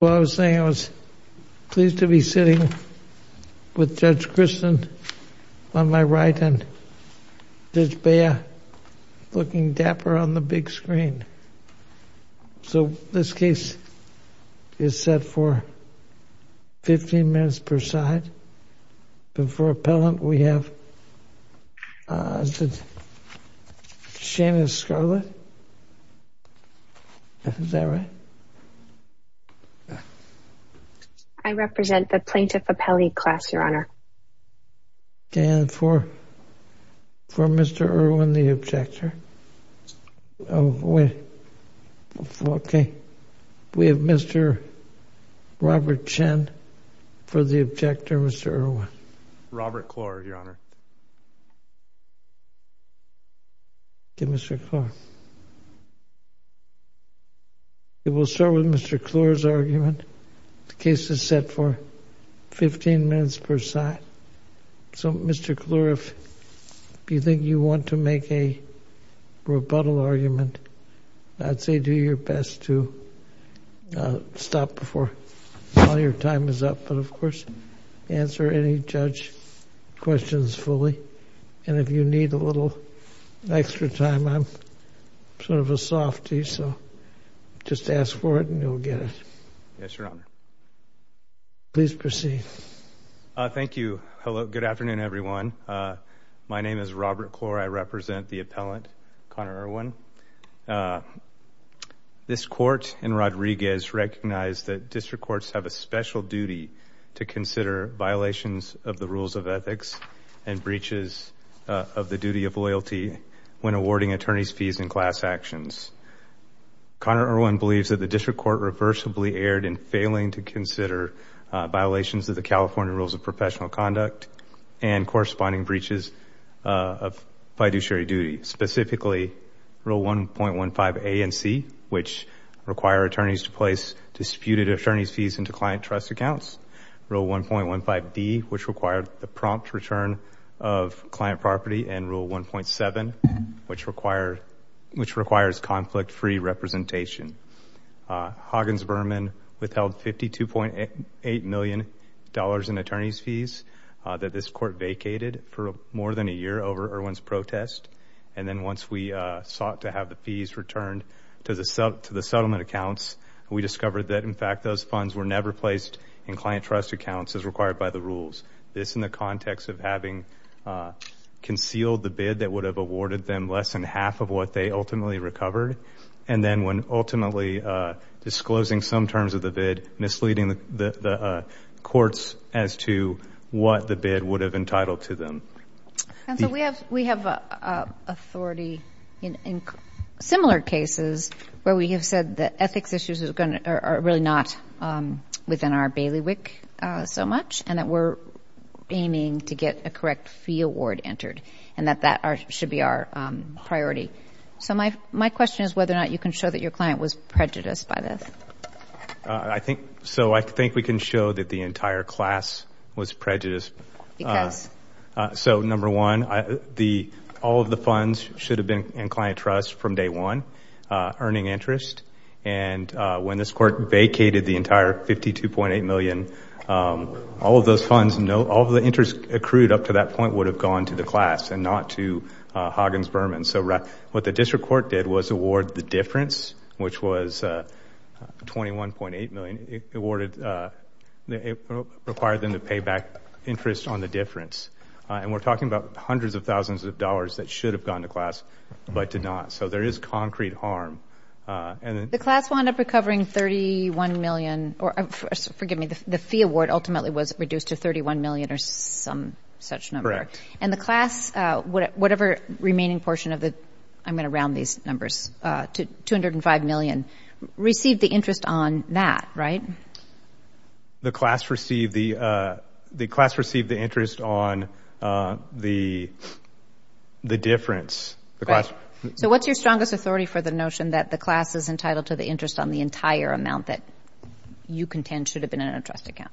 Well, I was saying I was pleased to be sitting with Judge Christin on my right and Judge Bea looking dapper on the big screen. So this case is set for 15 minutes per side. For appellant, we have Shanice Scarlett. Is that right? I represent the Plaintiff Appellee Class, Your Honor. Okay, and for Mr. Irwin, the objector? Oh, okay. We have Mr. Robert Chen for the objector, Mr. Irwin. Robert Kloer, Your Honor. Okay, Mr. Kloer. We'll start with Mr. Kloer's argument. The case is set for 15 minutes per side. So, Mr. Kloer, if you think you want to make a rebuttal argument, I'd say do your best to stop before all your time is up. But, of course, answer any judge questions fully. And if you need a little extra time, I'm sort of a softy, so just ask for it and you'll get it. Yes, Your Honor. Please proceed. Thank you. Hello. Good afternoon, everyone. My name is Robert Kloer. I represent the appellant, Connor Irwin. This Court in Rodriguez recognized that district courts have a special duty to consider violations of the rules of ethics and breaches of the duty of loyalty when awarding attorney's fees in class actions. Connor Irwin believes that the district court reversibly erred in failing to consider violations of the California Rules of Professional Conduct and corresponding breaches of fiduciary duty. Specifically, Rule 1.15 A and C, which require attorneys to place disputed attorney's fees into client trust accounts. Rule 1.15 D, which required the prompt return of client property. And Rule 1.7, which requires conflict-free representation. Hoggins-Berman withheld $52.8 million in attorney's fees that this Court vacated for more than a year over Irwin's protest. And then once we sought to have the fees returned to the settlement accounts, we discovered that, in fact, those funds were never placed in client trust accounts as required by the rules. This in the context of having concealed the bid that would have awarded them less than half of what they ultimately recovered, and then when ultimately disclosing some terms of the bid, misleading the courts as to what the bid would have entitled to them. Counsel, we have authority in similar cases where we have said that ethics issues are really not within our bailiwick so much, and that we're aiming to get a correct fee award entered, and that that should be our priority. So my question is whether or not you can show that your client was prejudiced by this. I think we can show that the entire class was prejudiced. Because? So number one, all of the funds should have been in client trust from day one, earning interest. And when this Court vacated the entire $52.8 million, all of those funds, all of the interest accrued up to that point would have gone to the class and not to Hoggins-Berman. So what the district court did was award the difference, which was $21.8 million. It required them to pay back interest on the difference. And we're talking about hundreds of thousands of dollars that should have gone to class but did not. So there is concrete harm. The class wound up recovering $31 million. Forgive me, the fee award ultimately was reduced to $31 million or some such number. Correct. And the class, whatever remaining portion of the, I'm going to round these numbers, $205 million, received the interest on that, right? The class received the interest on the difference. Correct. So what's your strongest authority for the notion that the class is entitled to the interest on the entire amount that you contend should have been in a trust account?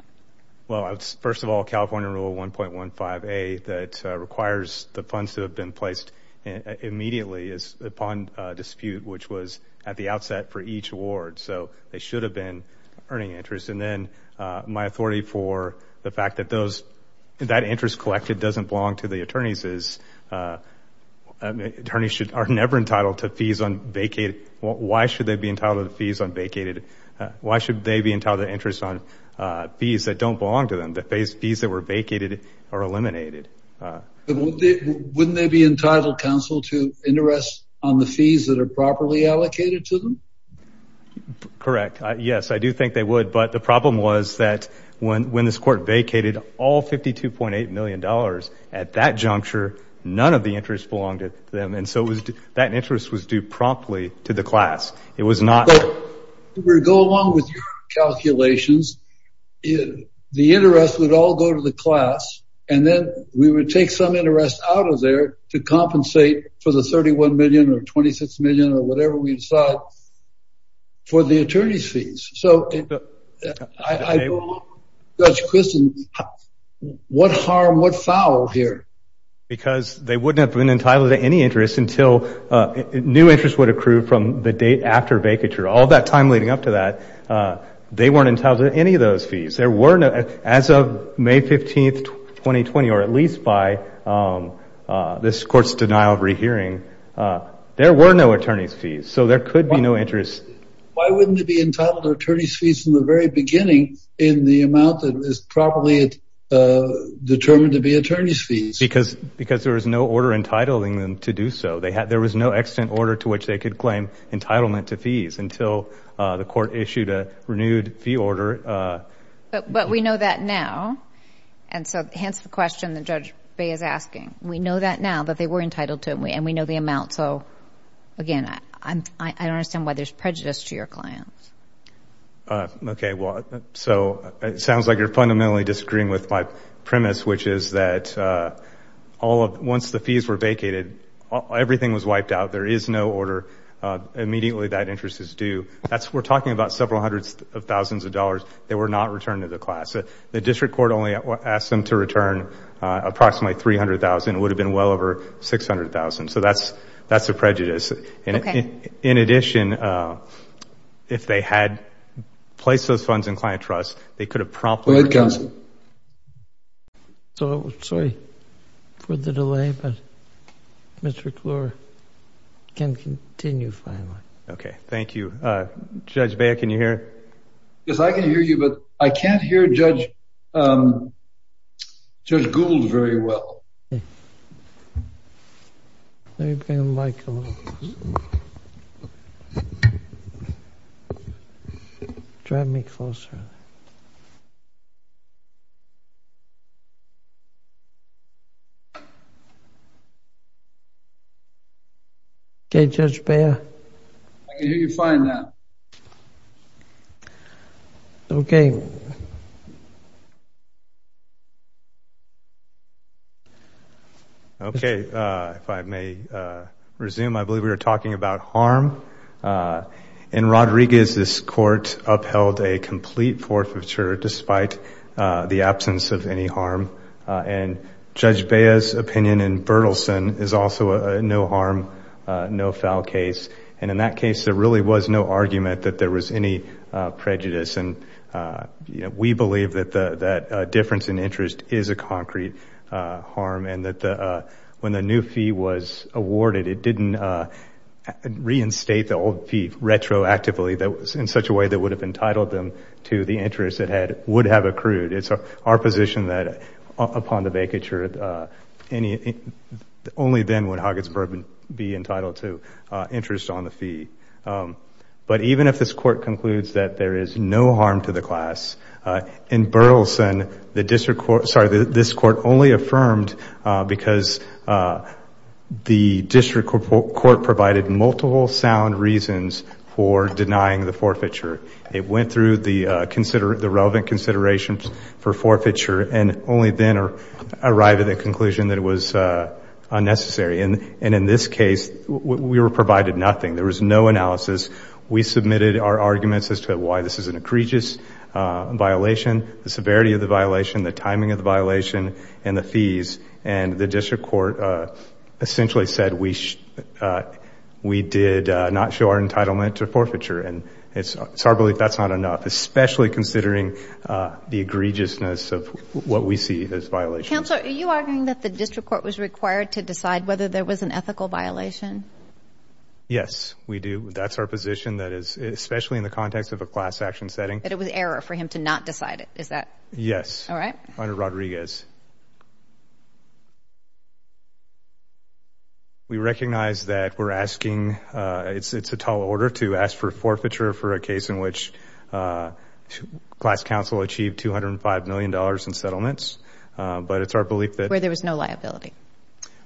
Well, first of all, California Rule 1.15a that requires the funds to have been placed immediately is upon dispute, which was at the outset for each award. So they should have been earning interest. And then my authority for the fact that that interest collected doesn't belong to the attorneys is attorneys are never entitled to fees on vacated. Why should they be entitled to fees on vacated? Why should they be entitled to interest on fees that don't belong to them, the fees that were vacated or eliminated? Wouldn't they be entitled, counsel, to interest on the fees that are properly allocated to them? Correct. Yes, I do think they would. But the problem was that when this court vacated all $52.8 million at that juncture, none of the interest belonged to them. And so that interest was due promptly to the class. But if we go along with your calculations, the interest would all go to the class. And then we would take some interest out of there to compensate for the $31 million or $26 million or whatever we decide for the attorney's fees. So I go along with Judge Christin, what harm, what foul here? Because they wouldn't have been entitled to any interest until new interest would accrue from the date after vacature. All that time leading up to that, they weren't entitled to any of those fees. There were no, as of May 15th, 2020, or at least by this court's denial of rehearing, there were no attorney's fees. So there could be no interest. Why wouldn't they be entitled to attorney's fees from the very beginning in the amount that is properly determined to be attorney's fees? Because there was no order entitling them to do so. There was no extant order to which they could claim entitlement to fees until the court issued a renewed fee order. But we know that now. And so hence the question that Judge Bay is asking. We know that now, that they were entitled to it. And we know the amount. So again, I don't understand why there's prejudice to your clients. Okay. So it sounds like you're fundamentally disagreeing with my premise, which is that once the fees were vacated, everything was wiped out. There is no order. Immediately that interest is due. We're talking about several hundreds of thousands of dollars that were not returned to the class. The district court only asked them to return approximately $300,000. It would have been well over $600,000. So that's a prejudice. Okay. In addition, if they had placed those funds in client trust, they could have promptly- Go ahead, counsel. So, sorry for the delay, but Mr. Kluwer can continue finally. Okay, thank you. Judge Bay, can you hear? Yes, I can hear you, but I can't hear Judge Gould very well. Okay. Can you bring the mic closer? Drive me closer. Okay, Judge Bayer. I can hear you fine now. Okay. Okay. If I may resume, I believe we were talking about harm. In Rodriguez, this court upheld a complete forfeiture despite the absence of any harm. And Judge Bayer's opinion in Berthelsen is also a no harm, no foul case. And in that case, there really was no argument that there was any prejudice. And we believe that difference in interest is a concrete harm. And that when the new fee was awarded, it didn't reinstate the old fee retroactively in such a way that would have entitled them to the interest that would have accrued. It's our position that upon the vacature, only then would Hugginsburg be entitled to interest on the fee. But even if this court concludes that there is no harm to the class, in Berthelsen, this court only affirmed because the district court provided multiple sound reasons for denying the forfeiture. It went through the relevant considerations for forfeiture and only then arrived at the conclusion that it was unnecessary. And in this case, we were provided nothing. There was no analysis. We submitted our arguments as to why this is an egregious violation, the severity of the violation, the timing of the violation, and the fees. And the district court essentially said we did not show our entitlement to forfeiture. And it's our belief that's not enough, especially considering the egregiousness of what we see as violations. Counselor, are you arguing that the district court was required to decide whether there was an ethical violation? Yes, we do. That's our position, that is, especially in the context of a class action setting. But it was error for him to not decide it. Is that right? Yes, under Rodriguez. We recognize that we're asking, it's a tall order to ask for forfeiture for a case in which class counsel achieved $205 million in settlements, but it's our belief that- Where there was no liability.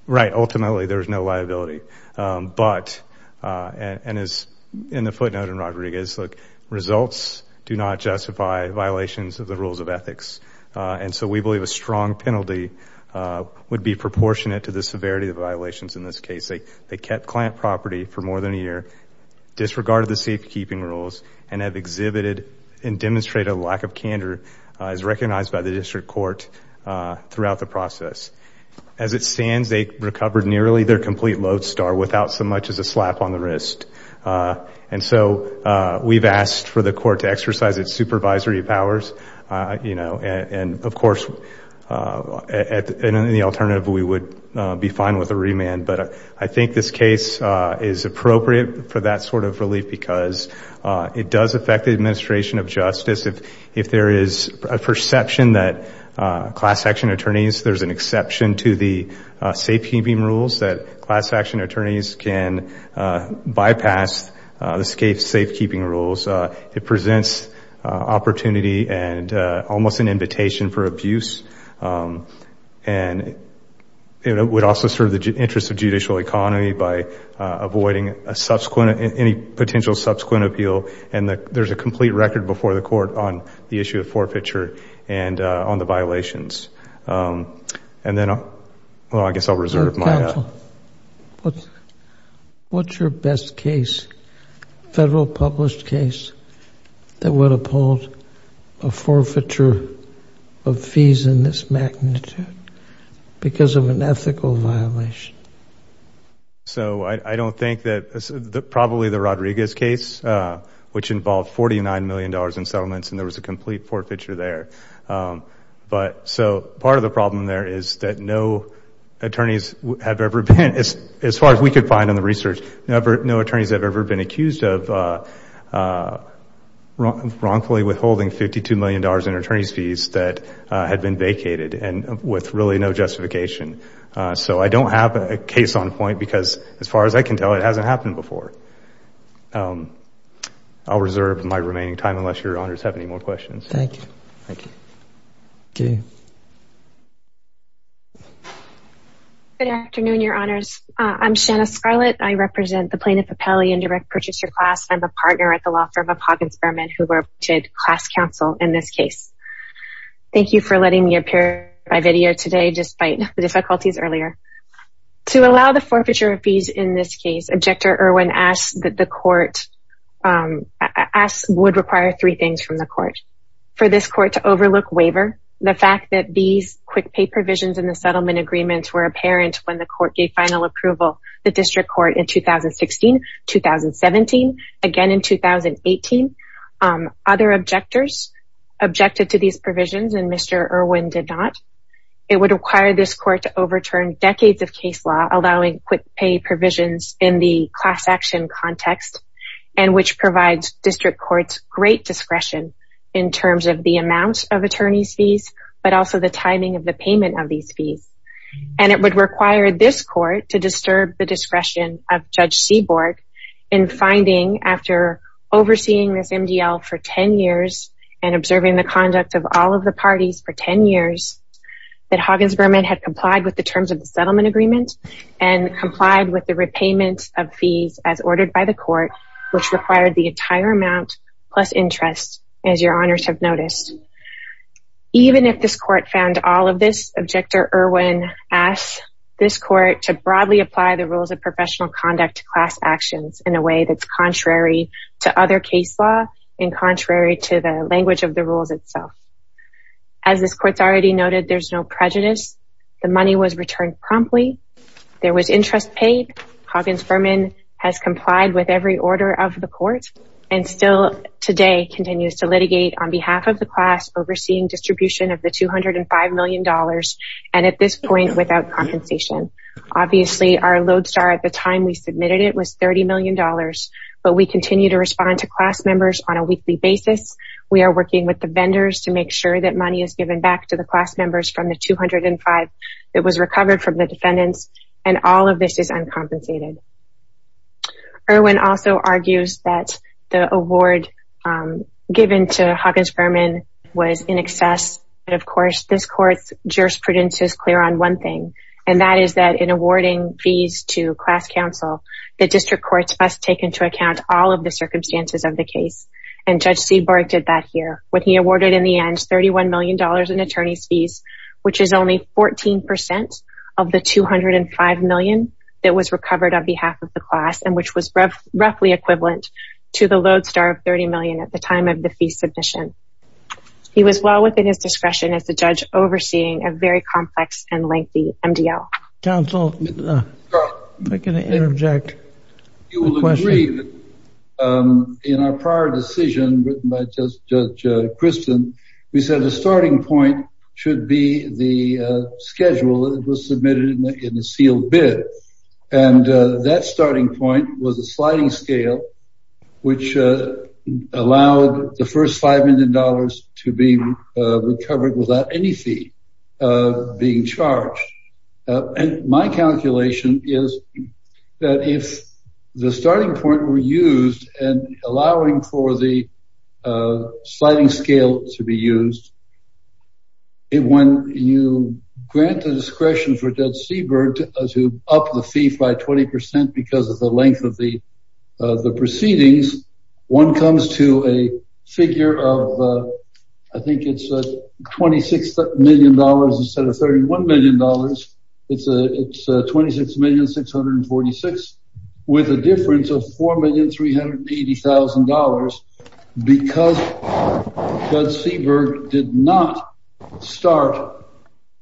Right, ultimately there was no liability. But, and as in the footnote in Rodriguez, look, results do not justify violations of the rules of ethics. And so we believe a strong penalty would be proportionate to the severity of violations in this case. They kept client property for more than a year, disregarded the safekeeping rules, and have exhibited and demonstrated a lack of candor as recognized by the district court throughout the process. As it stands, they recovered nearly their complete lodestar without so much as a slap on the wrist. And so we've asked for the court to exercise its supervisory powers. You know, and of course, in any alternative we would be fine with a remand. But I think this case is appropriate for that sort of relief because it does affect the administration of justice. If there is a perception that class action attorneys, there's an exception to the safekeeping rules, that class action attorneys can bypass the safekeeping rules. It presents opportunity and almost an invitation for abuse. And it would also serve the interest of judicial economy by avoiding any potential subsequent appeal. And there's a complete record before the court on the issue of forfeiture and on the violations. And then I guess I'll reserve my time. Counsel, what's your best case, federal published case, that would uphold a forfeiture of fees in this magnitude because of an ethical violation? So I don't think that probably the Rodriguez case, which involved $49 million in settlements, and there was a complete forfeiture there. But so part of the problem there is that no attorneys have ever been, as far as we could find in the research, no attorneys have ever been accused of wrongfully withholding $52 million in attorney's fees that had been vacated and with really no justification. So I don't have a case on point because, as far as I can tell, it hasn't happened before. I'll reserve my remaining time unless your honors have any more questions. Thank you. Good afternoon, your honors. I'm Shanna Scarlett. I represent the plaintiff appellee and direct purchaser class. I'm a partner at the law firm of Hawkins Berman who worked with class counsel in this case. Thank you for letting me appear by video today, despite the difficulties earlier. To allow the forfeiture of fees in this case, Objector Irwin asked that the court, would require three things from the court. For this court to overlook waiver, the fact that these quick pay provisions in the settlement agreements were apparent when the court gave final approval to the district court in 2016, 2017, again in 2018. Other objectors objected to these provisions and Mr. Irwin did not. It would require this court to overturn decades of case law allowing quick pay provisions in the class action context and which provides district courts great discretion in terms of the amount of attorney's fees, but also the timing of the payment of these fees. And it would require this court to disturb the discretion of Judge Seaborg in finding, after overseeing this MDL for 10 years and observing the conduct of all of the parties for 10 years, that Hawkins Berman had complied with the terms of the settlement agreement and complied with the repayment of fees as ordered by the court, which required the entire amount plus interest as your honors have noticed. Even if this court found all of this, Objector Irwin asked this court to broadly apply the rules of professional conduct to class actions in a way that's contrary to other case law and contrary to the language of the rules itself. As this court's already noted, there's no prejudice. The money was returned promptly. There was interest paid. Hawkins Berman has complied with every order of the court and still today continues to litigate on behalf of the class overseeing distribution of the $205 million and at this point without compensation. Obviously, our lodestar at the time we submitted it was $30 million, but we continue to respond to class members on a weekly basis. We are working with the vendors to make sure that money is given back to the class members from the $205 that was recovered from the defendants and all of this is uncompensated. Irwin also argues that the award given to Hawkins Berman was in excess. Of course, this court's jurisprudence is clear on one thing and that is that in awarding fees to class counsel, the district courts must take into account all of the circumstances of the case and Judge Seaborg did that here when he awarded in the end $31 million in attorney's fees, which is only 14% of the $205 million that was recovered on behalf of the class and which was roughly equivalent to the lodestar of $30 million at the time of the fee submission. He was well within his discretion as the judge overseeing a very complex and lengthy MDL. Counsel, if I can interject a question. You will agree that in our prior decision written by Judge Kristen, we said the starting point should be the schedule that was submitted in the sealed bid and that starting point was a sliding scale, which allowed the first $5 million to be recovered without any fee being charged. My calculation is that if the starting point were used and allowing for the sliding scale to be used, when you grant the discretion for Judge Seaborg to up the fee by 20% because of the length of the proceedings, one comes to a figure of, I think it's $26 million instead of $31 million. It's $26,646,000 with a difference of $4,380,000 because Judge Seaborg did not start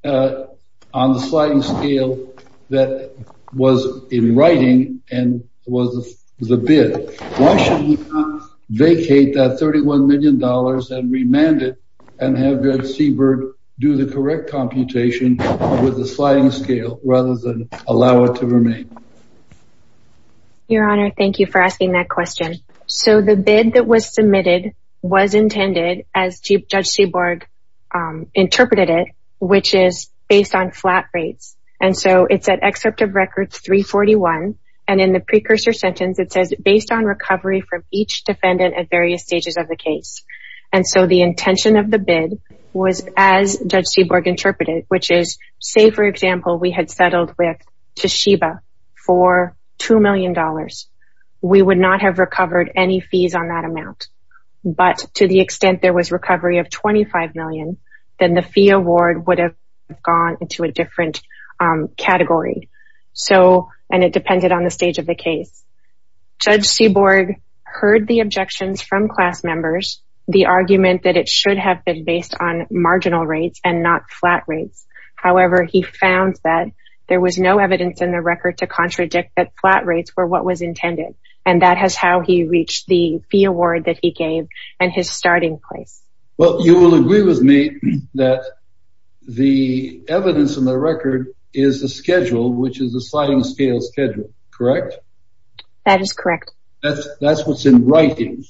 on the sliding scale that was in writing and was the bid. Why should he not vacate that $31 million and remand it and have Judge Seaborg do the correct computation with the sliding scale rather than allow it to remain? Your Honor, thank you for asking that question. The bid that was submitted was intended as Judge Seaborg interpreted it, which is based on flat rates. It's at Excerpt of Record 341. In the precursor sentence, it says, based on recovery from each defendant at various stages of the case. The intention of the bid was as Judge Seaborg interpreted, which is, say, for example, we had settled with Toshiba for $2 million. We would not have recovered any fees on that amount. But to the extent there was recovery of $25 million, then the fee award would have gone into a different category, and it depended on the stage of the case. Judge Seaborg heard the objections from class members, the argument that it should have been based on marginal rates and not flat rates. However, he found that there was no evidence in the record to contradict that flat rates were what was intended, and that is how he reached the fee award that he gave and his starting place. Well, you will agree with me that the evidence in the record is the schedule, which is the sliding scale schedule, correct? That is correct. That's what's in writing.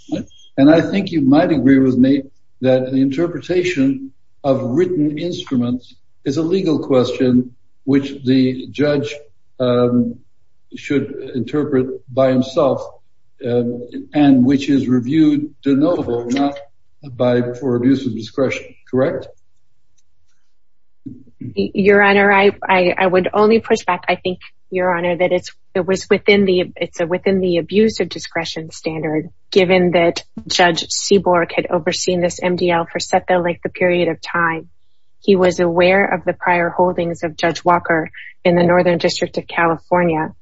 And I think you might agree with me that the interpretation of written instruments is a legal question which the judge should interpret by himself and which is reviewed de novo for abuse of discretion, correct? Your Honor, I would only push back, I think, Your Honor, that it's within the abuse of discretion standard, given that Judge Seaborg had overseen this MDL for set the length of period of time. He was aware of the prior holdings of Judge Walker in the Northern District of California,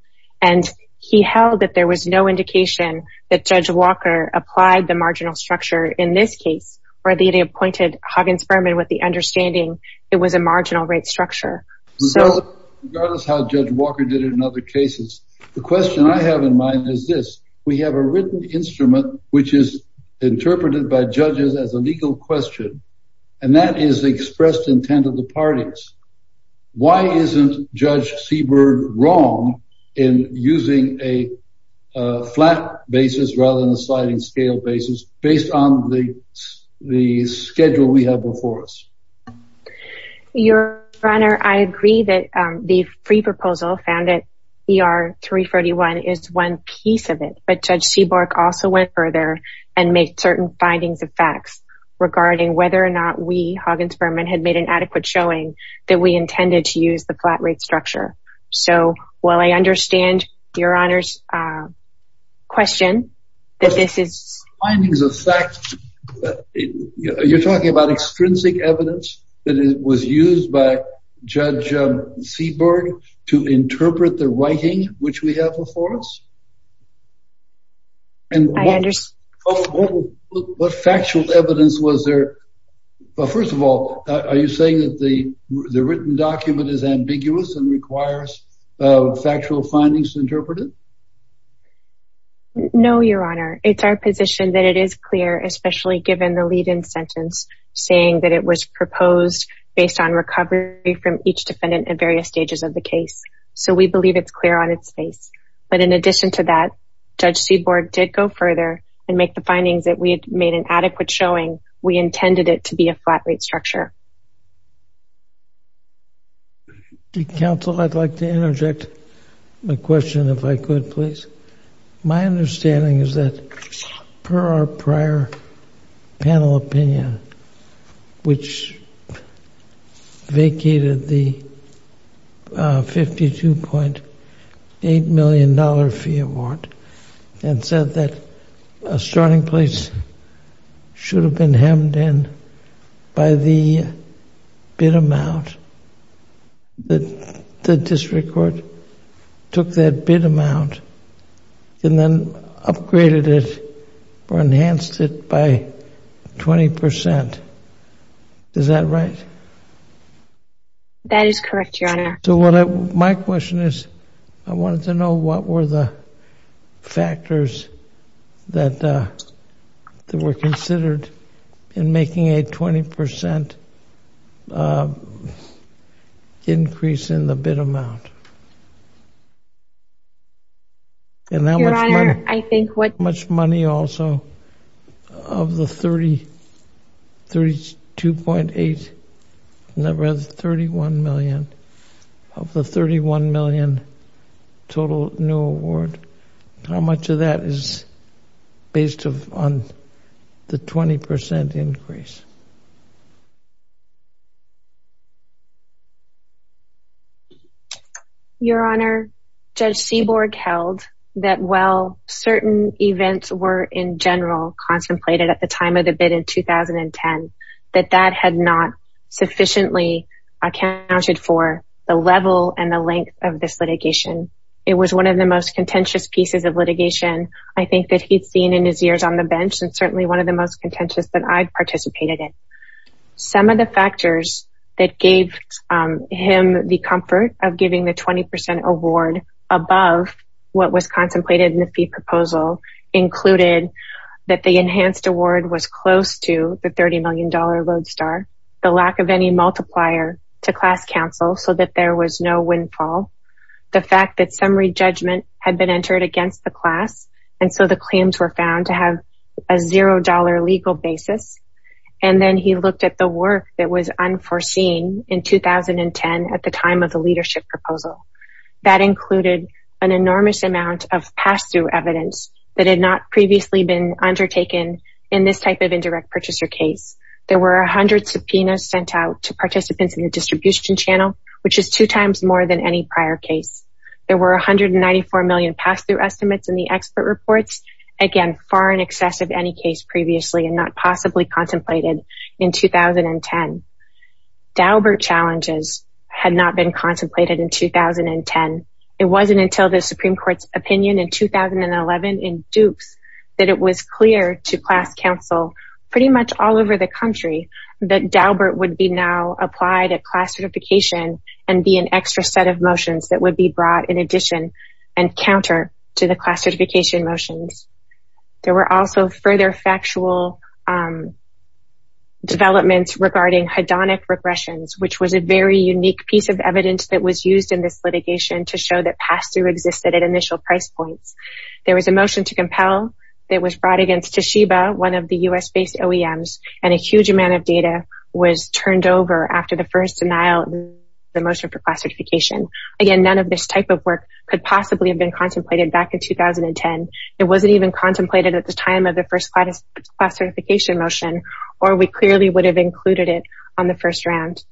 and he held that there was no indication that Judge Walker applied the marginal structure in this case or that he appointed Huggins-Berman with the understanding it was a marginal rate structure. Regardless of how Judge Walker did it in other cases, the question I have in mind is this. We have a written instrument which is interpreted by judges as a legal question, and that is the expressed intent of the parties. Why isn't Judge Seaborg wrong in using a flat basis rather than a sliding scale basis based on the schedule we have before us? Your Honor, I agree that the free proposal found at ER 341 is one piece of it, but Judge Seaborg also went further and made certain findings of facts regarding whether or not we, Huggins-Berman, had made an adequate showing that we intended to use the flat rate structure. So, while I understand Your Honor's question that this is… that it was used by Judge Seaborg to interpret the writing which we have before us? I understand. What factual evidence was there? First of all, are you saying that the written document is ambiguous and requires factual findings to interpret it? No, Your Honor. It's our position that it is clear, especially given the lead-in sentence saying that it was proposed based on recovery from each defendant at various stages of the case. So, we believe it's clear on its face. But in addition to that, Judge Seaborg did go further and make the findings that we had made an adequate showing we intended it to be a flat rate structure. My understanding is that per our prior panel opinion, which vacated the $52.8 million fee award and said that a starting place should have been hemmed in by the bid amount, the district court took that bid amount and then upgraded it or enhanced it by 20%. Is that right? That is correct, Your Honor. So, my question is, I wanted to know what were the factors that were considered in making a 20% increase in the bid amount? Your Honor, I think what— And how much money also of the $32.8 million, or rather $31 million, of the $31 million total new award, how much of that is based on the 20% increase? Your Honor, Judge Seaborg held that while certain events were in general contemplated at the time of the bid in 2010, that that had not sufficiently accounted for the level and the length of this litigation. It was one of the most contentious pieces of litigation, I think, that he'd seen in his years on the bench and certainly one of the most contentious that I've participated in. Some of the factors that gave him the comfort of giving the 20% award above what was contemplated in the fee proposal included that the enhanced award was close to the $30 million road star, the lack of any multiplier to class counsel so that there was no windfall, the fact that summary judgment had been entered against the class, and so the claims were found to have a $0 legal basis. And then he looked at the work that was unforeseen in 2010 at the time of the leadership proposal. That included an enormous amount of pass-through evidence that had not previously been undertaken in this type of indirect purchaser case. There were 100 subpoenas sent out to participants in the distribution channel, which is two times more than any prior case. There were 194 million pass-through estimates in the expert reports, again, far in excess of any case previously and not possibly contemplated in 2010. Daubert challenges had not been contemplated in 2010. It wasn't until the Supreme Court's opinion in 2011 in Dukes that it was clear to class counsel pretty much all over the country that Daubert would be now applied at class certification and be an extra set of motions that would be brought in addition and counter to the class certification motions. There were also further factual developments regarding hedonic regressions, which was a very unique piece of evidence that was used in this litigation to show that pass-through existed at initial price points. There was a motion to compel that was brought against Toshiba, one of the U.S.-based OEMs, and a huge amount of data was turned over after the first denial of the motion for class certification. Again, none of this type of work could possibly have been contemplated back in 2010. It wasn't even contemplated at the time of the first class certification motion, or we clearly would have included it on the first round.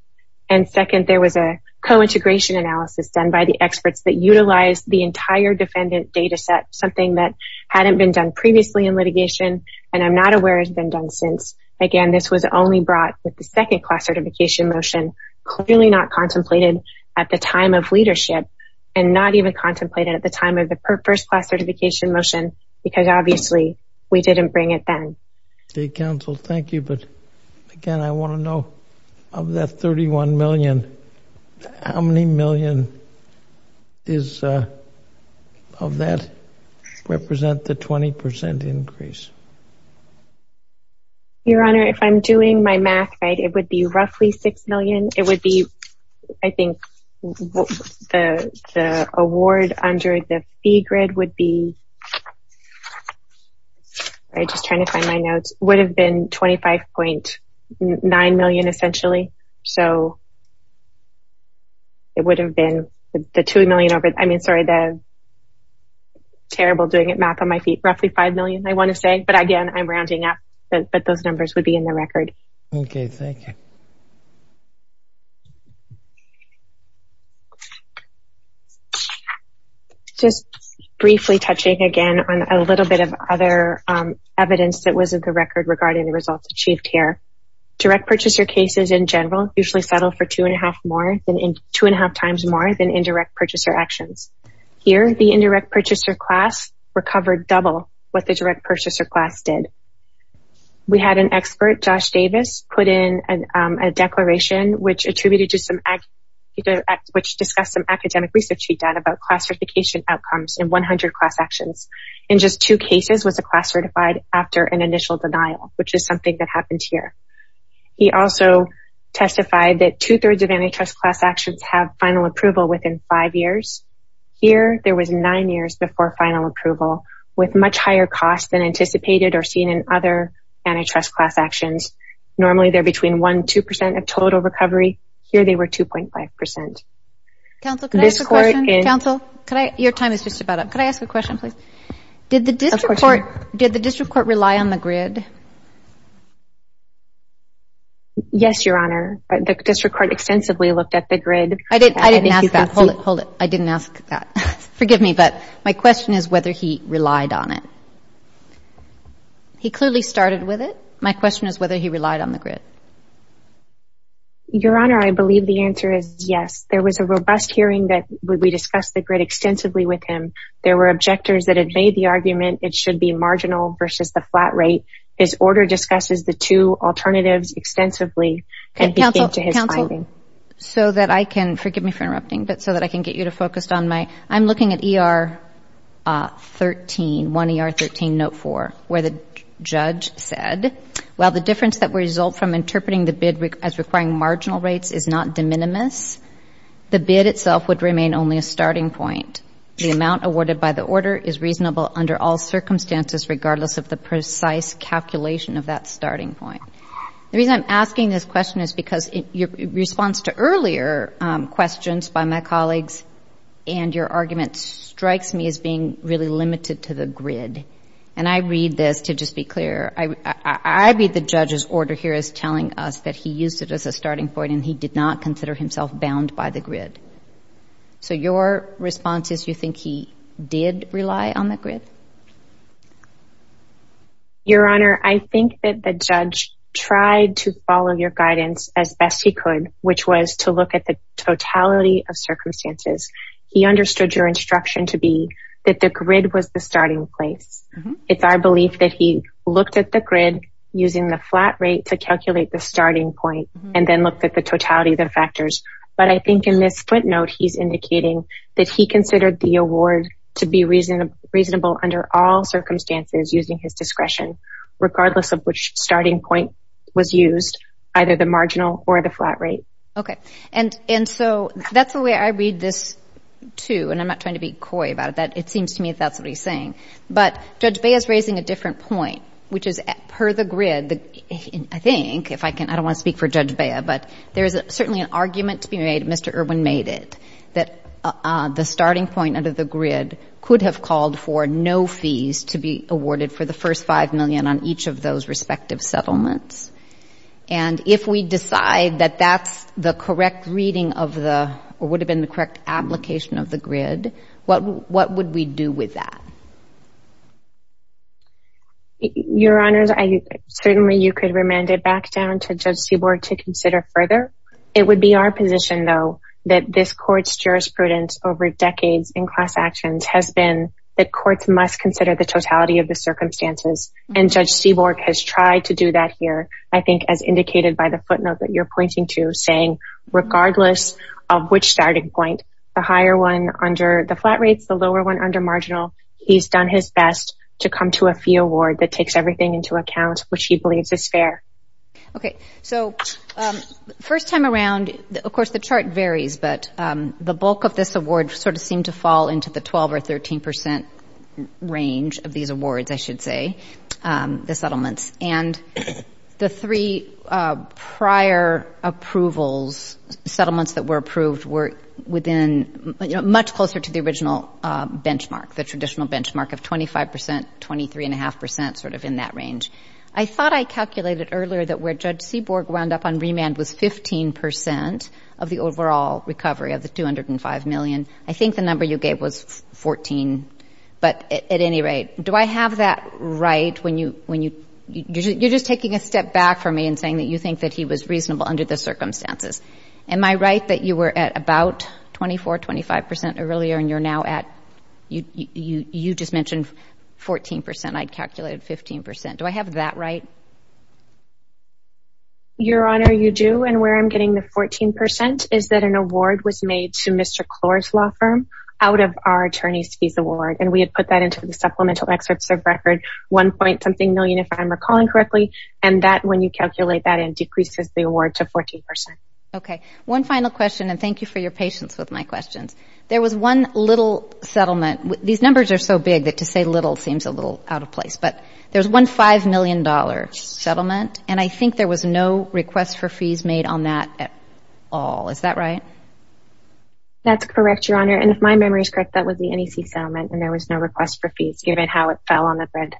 And second, there was a cointegration analysis done by the experts that utilized the entire defendant data set, something that hadn't been done previously in litigation and I'm not aware has been done since. Again, this was only brought with the second class certification motion, clearly not contemplated at the time of leadership and not even contemplated at the time of the first class certification motion because obviously we didn't bring it then. State counsel, thank you, but again, I want to know, of that $31 million, how many million of that represent the 20% increase? Your Honor, if I'm doing my math right, it would be roughly $6 million. It would be, I think, the award under the fee grid would be, I'm just trying to find my notes, would have been $25.9 million, essentially. So it would have been the $2 million, I mean, sorry, the terrible doing math on my feet, roughly $5 million, I want to say. But again, I'm rounding up, but those numbers would be in the record. Okay, thank you. Just briefly touching again on a little bit of other evidence that wasn't the record regarding the results achieved here. Direct purchaser cases in general usually settle for 2.5 times more than indirect purchaser actions. Here, the indirect purchaser class recovered double what the direct purchaser class did. We had an expert, Josh Davis, put in a declaration, which discussed some academic research he'd done about class certification outcomes in 100 class actions. In just two cases was a class certified after an initial denial, which is something that happened here. He also testified that two-thirds of antitrust class actions have final approval within five years. Here, there was nine years before final approval, with much higher costs than anticipated or seen in other antitrust class actions. Normally, they're between 1% and 2% of total recovery. Here, they were 2.5%. Counsel, your time is just about up. Could I ask a question, please? Did the district court rely on the grid? Yes, Your Honor. The district court extensively looked at the grid. I didn't ask that. Hold it. I didn't ask that. Forgive me, but my question is whether he relied on it. He clearly started with it. My question is whether he relied on the grid. Your Honor, I believe the answer is yes. There was a robust hearing that we discussed the grid extensively with him. There were objectors that had made the argument it should be marginal versus the flat rate. His order discusses the two alternatives extensively. Counsel, so that I can, forgive me for interrupting, but so that I can get you to focus on my, I'm looking at ER 13, 1 ER 13, note 4, where the judge said, while the difference that would result from interpreting the bid as requiring marginal rates is not de minimis, the bid itself would remain only a starting point. The amount awarded by the order is reasonable under all circumstances, regardless of the precise calculation of that starting point. The reason I'm asking this question is because your response to earlier questions by my colleagues and your argument strikes me as being really limited to the grid. And I read this, to just be clear, I read the judge's order here as telling us that he used it as a starting point and he did not consider himself bound by the grid. So your response is you think he did rely on the grid? Your Honor, I think that the judge tried to follow your guidance as best he could, which was to look at the totality of circumstances. He understood your instruction to be that the grid was the starting place. It's our belief that he looked at the grid using the flat rate to calculate the starting point and then looked at the totality of the factors. But I think in this footnote, he's indicating that he considered the award to be reasonable under all circumstances using his discretion, regardless of which starting point was used, either the marginal or the flat rate. Okay. And so that's the way I read this, too, and I'm not trying to be coy about it. It seems to me that that's what he's saying. But Judge Bea is raising a different point, which is per the grid, I think, if I can, I don't want to speak for Judge Bea, but there is certainly an argument to be made, Mr. Irwin made it, that the starting point under the grid could have called for no fees to be awarded for the first $5 million on each of those respective settlements. And if we decide that that's the correct reading of the or would have been the correct application of the grid, what would we do with that? Your Honors, certainly you could remand it back down to Judge Seaborg to consider further. It would be our position, though, that this Court's jurisprudence over decades in class actions has been that courts must consider the totality of the circumstances, and Judge Seaborg has tried to do that here, I think, as indicated by the footnote that you're pointing to, saying regardless of which starting point, the higher one under the flat rates, the lower one under marginal, he's done his best to come to a fee award that takes everything into account, which he believes is fair. Okay. So first time around, of course, the chart varies, but the bulk of this award sort of seemed to fall into the 12% or 13% range of these awards, I should say, the settlements. And the three prior approvals, settlements that were approved, were within, you know, much closer to the original benchmark, the traditional benchmark of 25%, 23.5% sort of in that range. I thought I calculated earlier that where Judge Seaborg wound up on remand was 15% of the overall recovery of the $205 million. I think the number you gave was 14. But at any rate, do I have that right when you're just taking a step back from me and saying that you think that he was reasonable under the circumstances? Am I right that you were at about 24%, 25% earlier, and you're now at you just mentioned 14%? I'd calculated 15%. Do I have that right? Your Honor, you do. And where I'm getting the 14% is that an award was made to Mr. Klor's law firm out of our attorney's fees award, and we had put that into the supplemental excerpts of record 1 point something million, if I'm recalling correctly, and that when you calculate that in, decreases the award to 14%. Okay. One final question, and thank you for your patience with my questions. There was one little settlement. These numbers are so big that to say little seems a little out of place. But there was one $5 million settlement, and I think there was no request for fees made on that at all. Is that right? That's correct, Your Honor. And if my memory is correct, that was the NEC settlement, and there was no request for fees given how it fell on the grid.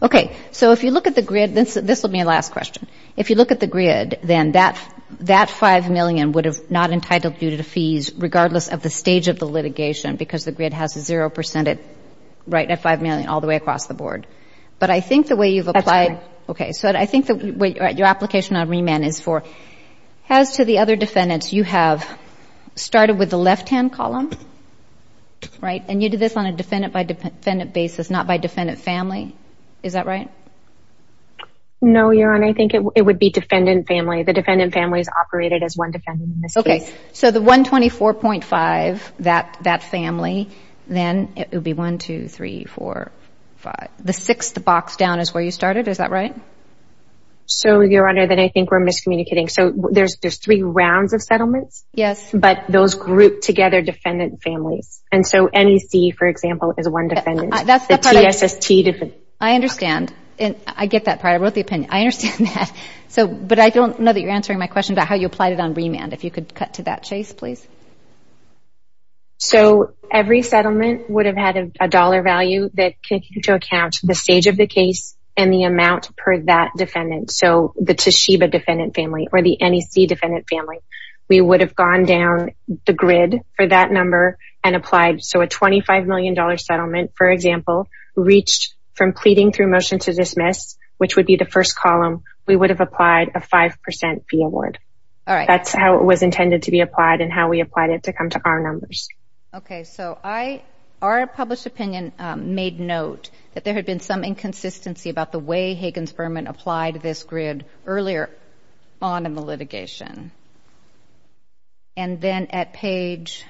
Okay. So if you look at the grid, this will be a last question. If you look at the grid, then that $5 million would have not entitled you to the fees, regardless of the stage of the litigation, because the grid has a 0% rate at $5 million all the way across the board. But I think the way you've applied. That's right. Okay. So I think your application on remand is for. As to the other defendants, you have started with the left-hand column, right? And you did this on a defendant-by-defendant basis, not by defendant family. Is that right? No, Your Honor. The defendant family is operated as one defendant in this case. Okay. So the $124.5, that family, then it would be 1, 2, 3, 4, 5. The sixth box down is where you started. Is that right? So, Your Honor, then I think we're miscommunicating. So there's three rounds of settlements. Yes. But those group together defendant families. And so NEC, for example, is one defendant. The TSST. I understand. I get that part. I wrote the opinion. I understand that. But I don't know that you're answering my question about how you applied it on remand. If you could cut to that, Chase, please. So every settlement would have had a dollar value that took into account the stage of the case and the amount per that defendant. So the Toshiba defendant family or the NEC defendant family. We would have gone down the grid for that number and applied. So a $25 million settlement, for example, reached from pleading through motion to dismiss, which would be the first column, we would have applied a 5% fee award. All right. That's how it was intended to be applied and how we applied it to come to our numbers. Okay. So our published opinion made note that there had been some inconsistency about the way Hagen's firm had applied this grid earlier on in the litigation. And then at page,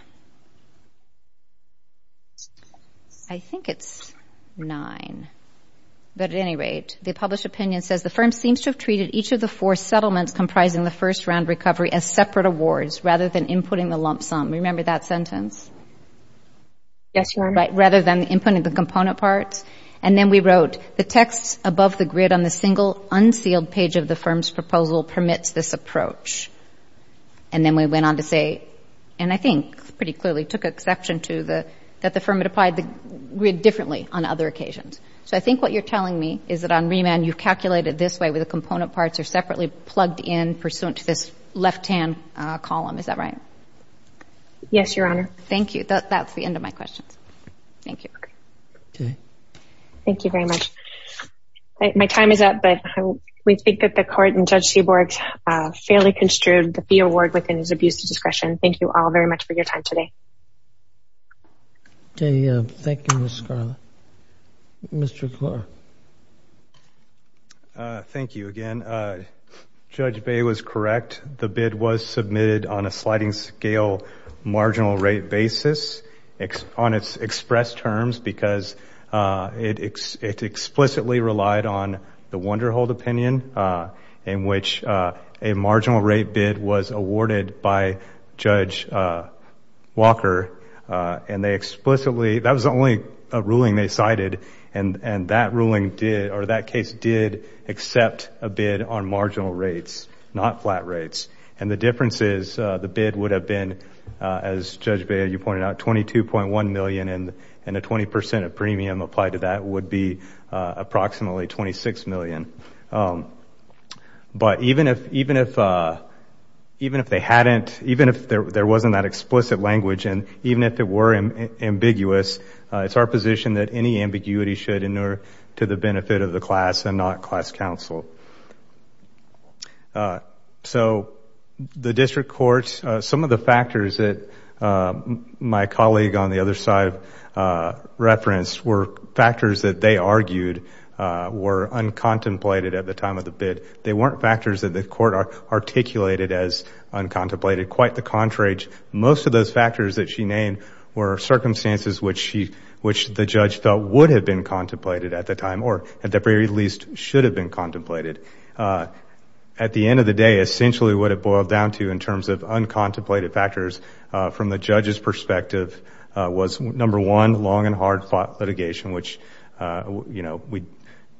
I think it's 9. But at any rate, the published opinion says, the firm seems to have treated each of the four settlements comprising the first round recovery as separate awards rather than inputting the lump sum. Remember that sentence? Yes, Your Honor. Rather than inputting the component parts. And then we wrote, the text above the grid on the single unsealed page of the firm's proposal permits this approach. And then we went on to say, and I think pretty clearly took exception to, that the firm had applied the grid differently on other occasions. So I think what you're telling me is that on remand, you've calculated this way where the component parts are separately plugged in pursuant to this left-hand column. Is that right? Yes, Your Honor. Thank you. That's the end of my questions. Thank you. Okay. Thank you very much. My time is up, but we think that the Court and Judge Seaborg fairly construed the fee award within his abuse of discretion. Thank you all very much for your time today. Thank you, Mr. Scarlett. Mr. Clark. Thank you again. Judge Bay was correct. The bid was submitted on a sliding scale marginal rate basis on its express terms because it explicitly relied on the Wonderhold opinion in which a marginal rate bid was awarded by Judge Walker, and they explicitly, that was the only ruling they cited, and that ruling did, or that case did accept a bid on marginal rates, not flat rates. And the difference is the bid would have been, as Judge Bay, you pointed out, $22.1 million, and a 20% of premium applied to that would be approximately $26 million. But even if they hadn't, even if there wasn't that explicit language, and even if it were ambiguous, it's our position that any ambiguity should inure to the benefit of the class and not class counsel. So the district courts, some of the factors that my colleague on the other side referenced were factors that they argued were uncontemplated at the time of the bid. They weren't factors that the court articulated as uncontemplated. Quite the contrary, most of those factors that she named were circumstances which the judge felt would have been contemplated at the time or at the very least should have been contemplated. At the end of the day, essentially what it boiled down to in terms of uncontemplated factors from the judge's perspective was, number one, long and hard fought litigation, which we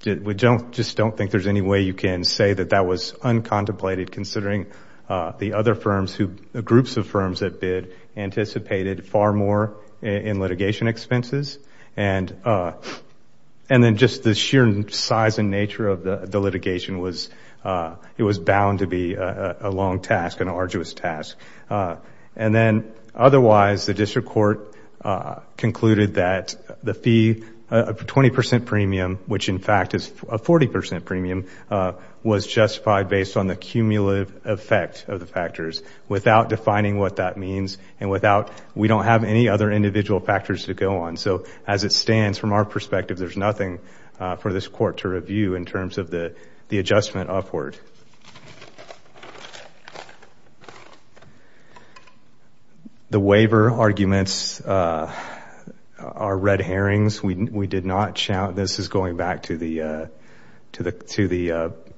just don't think there's any way you can say that that was uncontemplated considering the other firms, groups of firms that bid anticipated far more in litigation expenses. And then just the sheer size and nature of the litigation was, it was bound to be a long task, an arduous task. And then otherwise, the district court concluded that the fee, a 20% premium, which in fact is a 40% premium, was justified based on the cumulative effect of the factors without defining what that means and without, we don't have any other individual factors to go on. So as it stands, from our perspective, there's nothing for this court to review in terms of the adjustment upward. The waiver arguments are red herrings. This is going back to the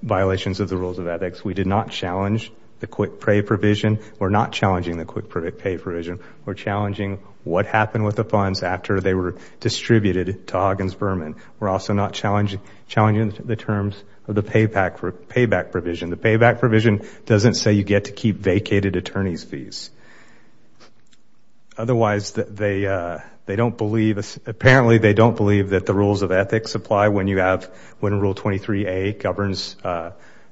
violations of the rules of ethics. We did not challenge the quick pay provision. We're not challenging the quick pay provision. We're challenging what happened with the funds after they were distributed to Huggins Berman. We're also not challenging the terms of the payback provision. The payback provision doesn't say you get to keep vacated attorney's fees. Otherwise, they don't believe, apparently they don't believe that the rules of ethics apply when you have, when Rule 23A governs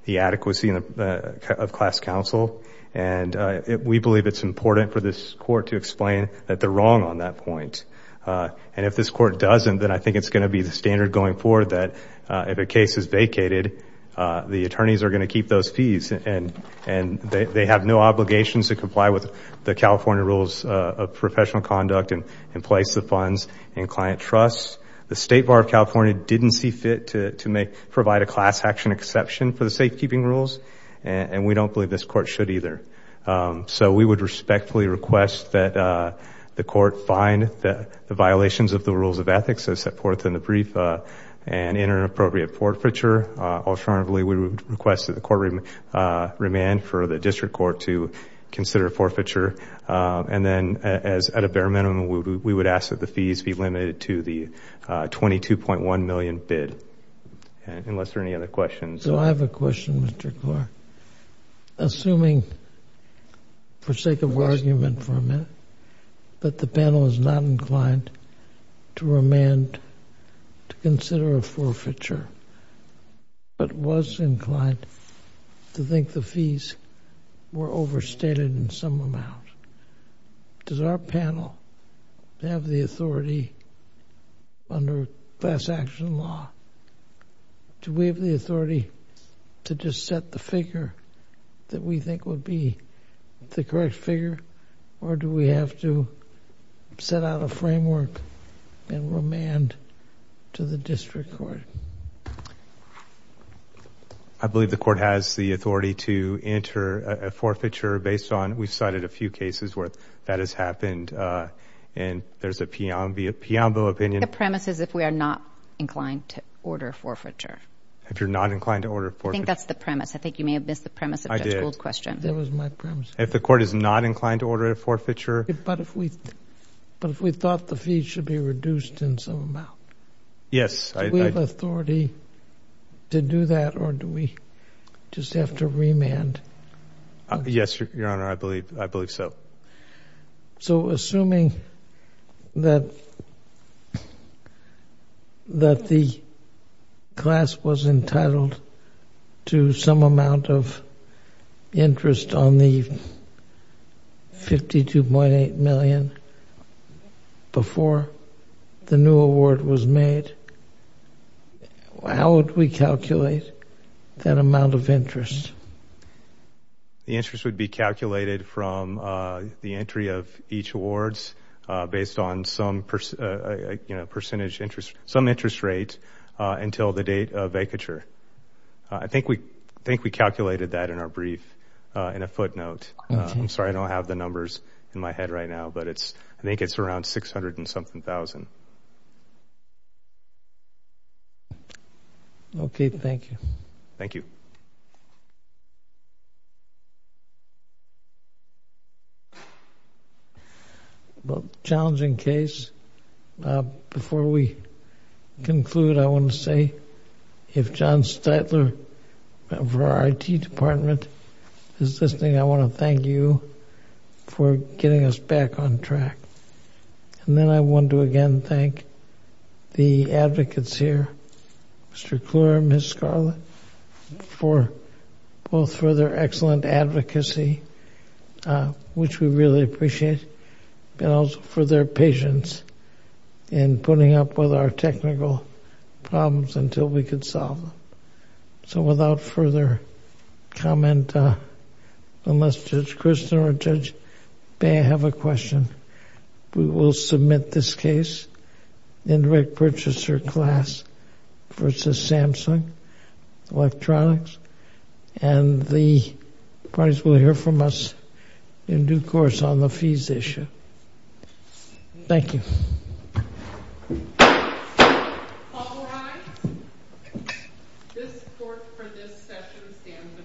the adequacy of class counsel. And we believe it's important for this court to explain that they're wrong on that point. And if this court doesn't, then I think it's going to be the standard going forward that if a case is vacated, the attorneys are going to keep those fees and they have no obligations to comply with the California rules of professional conduct and place the funds in client trusts. The State Bar of California didn't see fit to provide a class action exception for the safekeeping rules. And we don't believe this court should either. So we would respectfully request that the court find the violations of the rules of ethics as set forth in the brief and enter an appropriate forfeiture. Alternatively, we would request that the court remand for the district court to consider a forfeiture. And then at a bare minimum, we would ask that the fees be limited to the $22.1 million bid, unless there are any other questions. So I have a question, Mr. Clark. Assuming, for sake of argument for a minute, that the panel is not inclined to remand to consider a forfeiture, but was inclined to think the fees were overstated in some amount, does our panel have the authority under class action law do we have the authority to just set the figure that we think would be the correct figure, or do we have to set out a framework and remand to the district court? I believe the court has the authority to enter a forfeiture based on, we've cited a few cases where that has happened, and there's a Pionville opinion. I think the premise is if we are not inclined to order a forfeiture. If you're not inclined to order a forfeiture? I think that's the premise. I think you may have missed the premise of Judge Gould's question. That was my premise. If the court is not inclined to order a forfeiture? But if we thought the fees should be reduced in some amount, do we have authority to do that, or do we just have to remand? Yes, Your Honor, I believe so. So assuming that the class was entitled to some amount of interest on the $52.8 million before the new award was made, how would we calculate that amount of interest? The interest would be calculated from the entry of each awards based on some interest rate until the date of vacature. I think we calculated that in our brief in a footnote. I'm sorry, I don't have the numbers in my head right now, but I think it's around $600,000 and something. Okay, thank you. Thank you. Well, challenging case. Before we conclude, I want to say, if John Steitler of our IT department is listening, I want to thank you for getting us back on track. Then I want to again thank the advocates here, Mr. Kluwer, Ms. Scarlett, for both for their excellent advocacy, which we really appreciate, and also for their patience in putting up with our technical problems until we could solve them. So without further comment, unless Judge Kristin or Judge Bay have a question, we will submit this case, indirect purchaser class versus Samsung Electronics, and the parties will hear from us in due course on the fees issue. Thank you. All rise. This court for this session stands adjourned.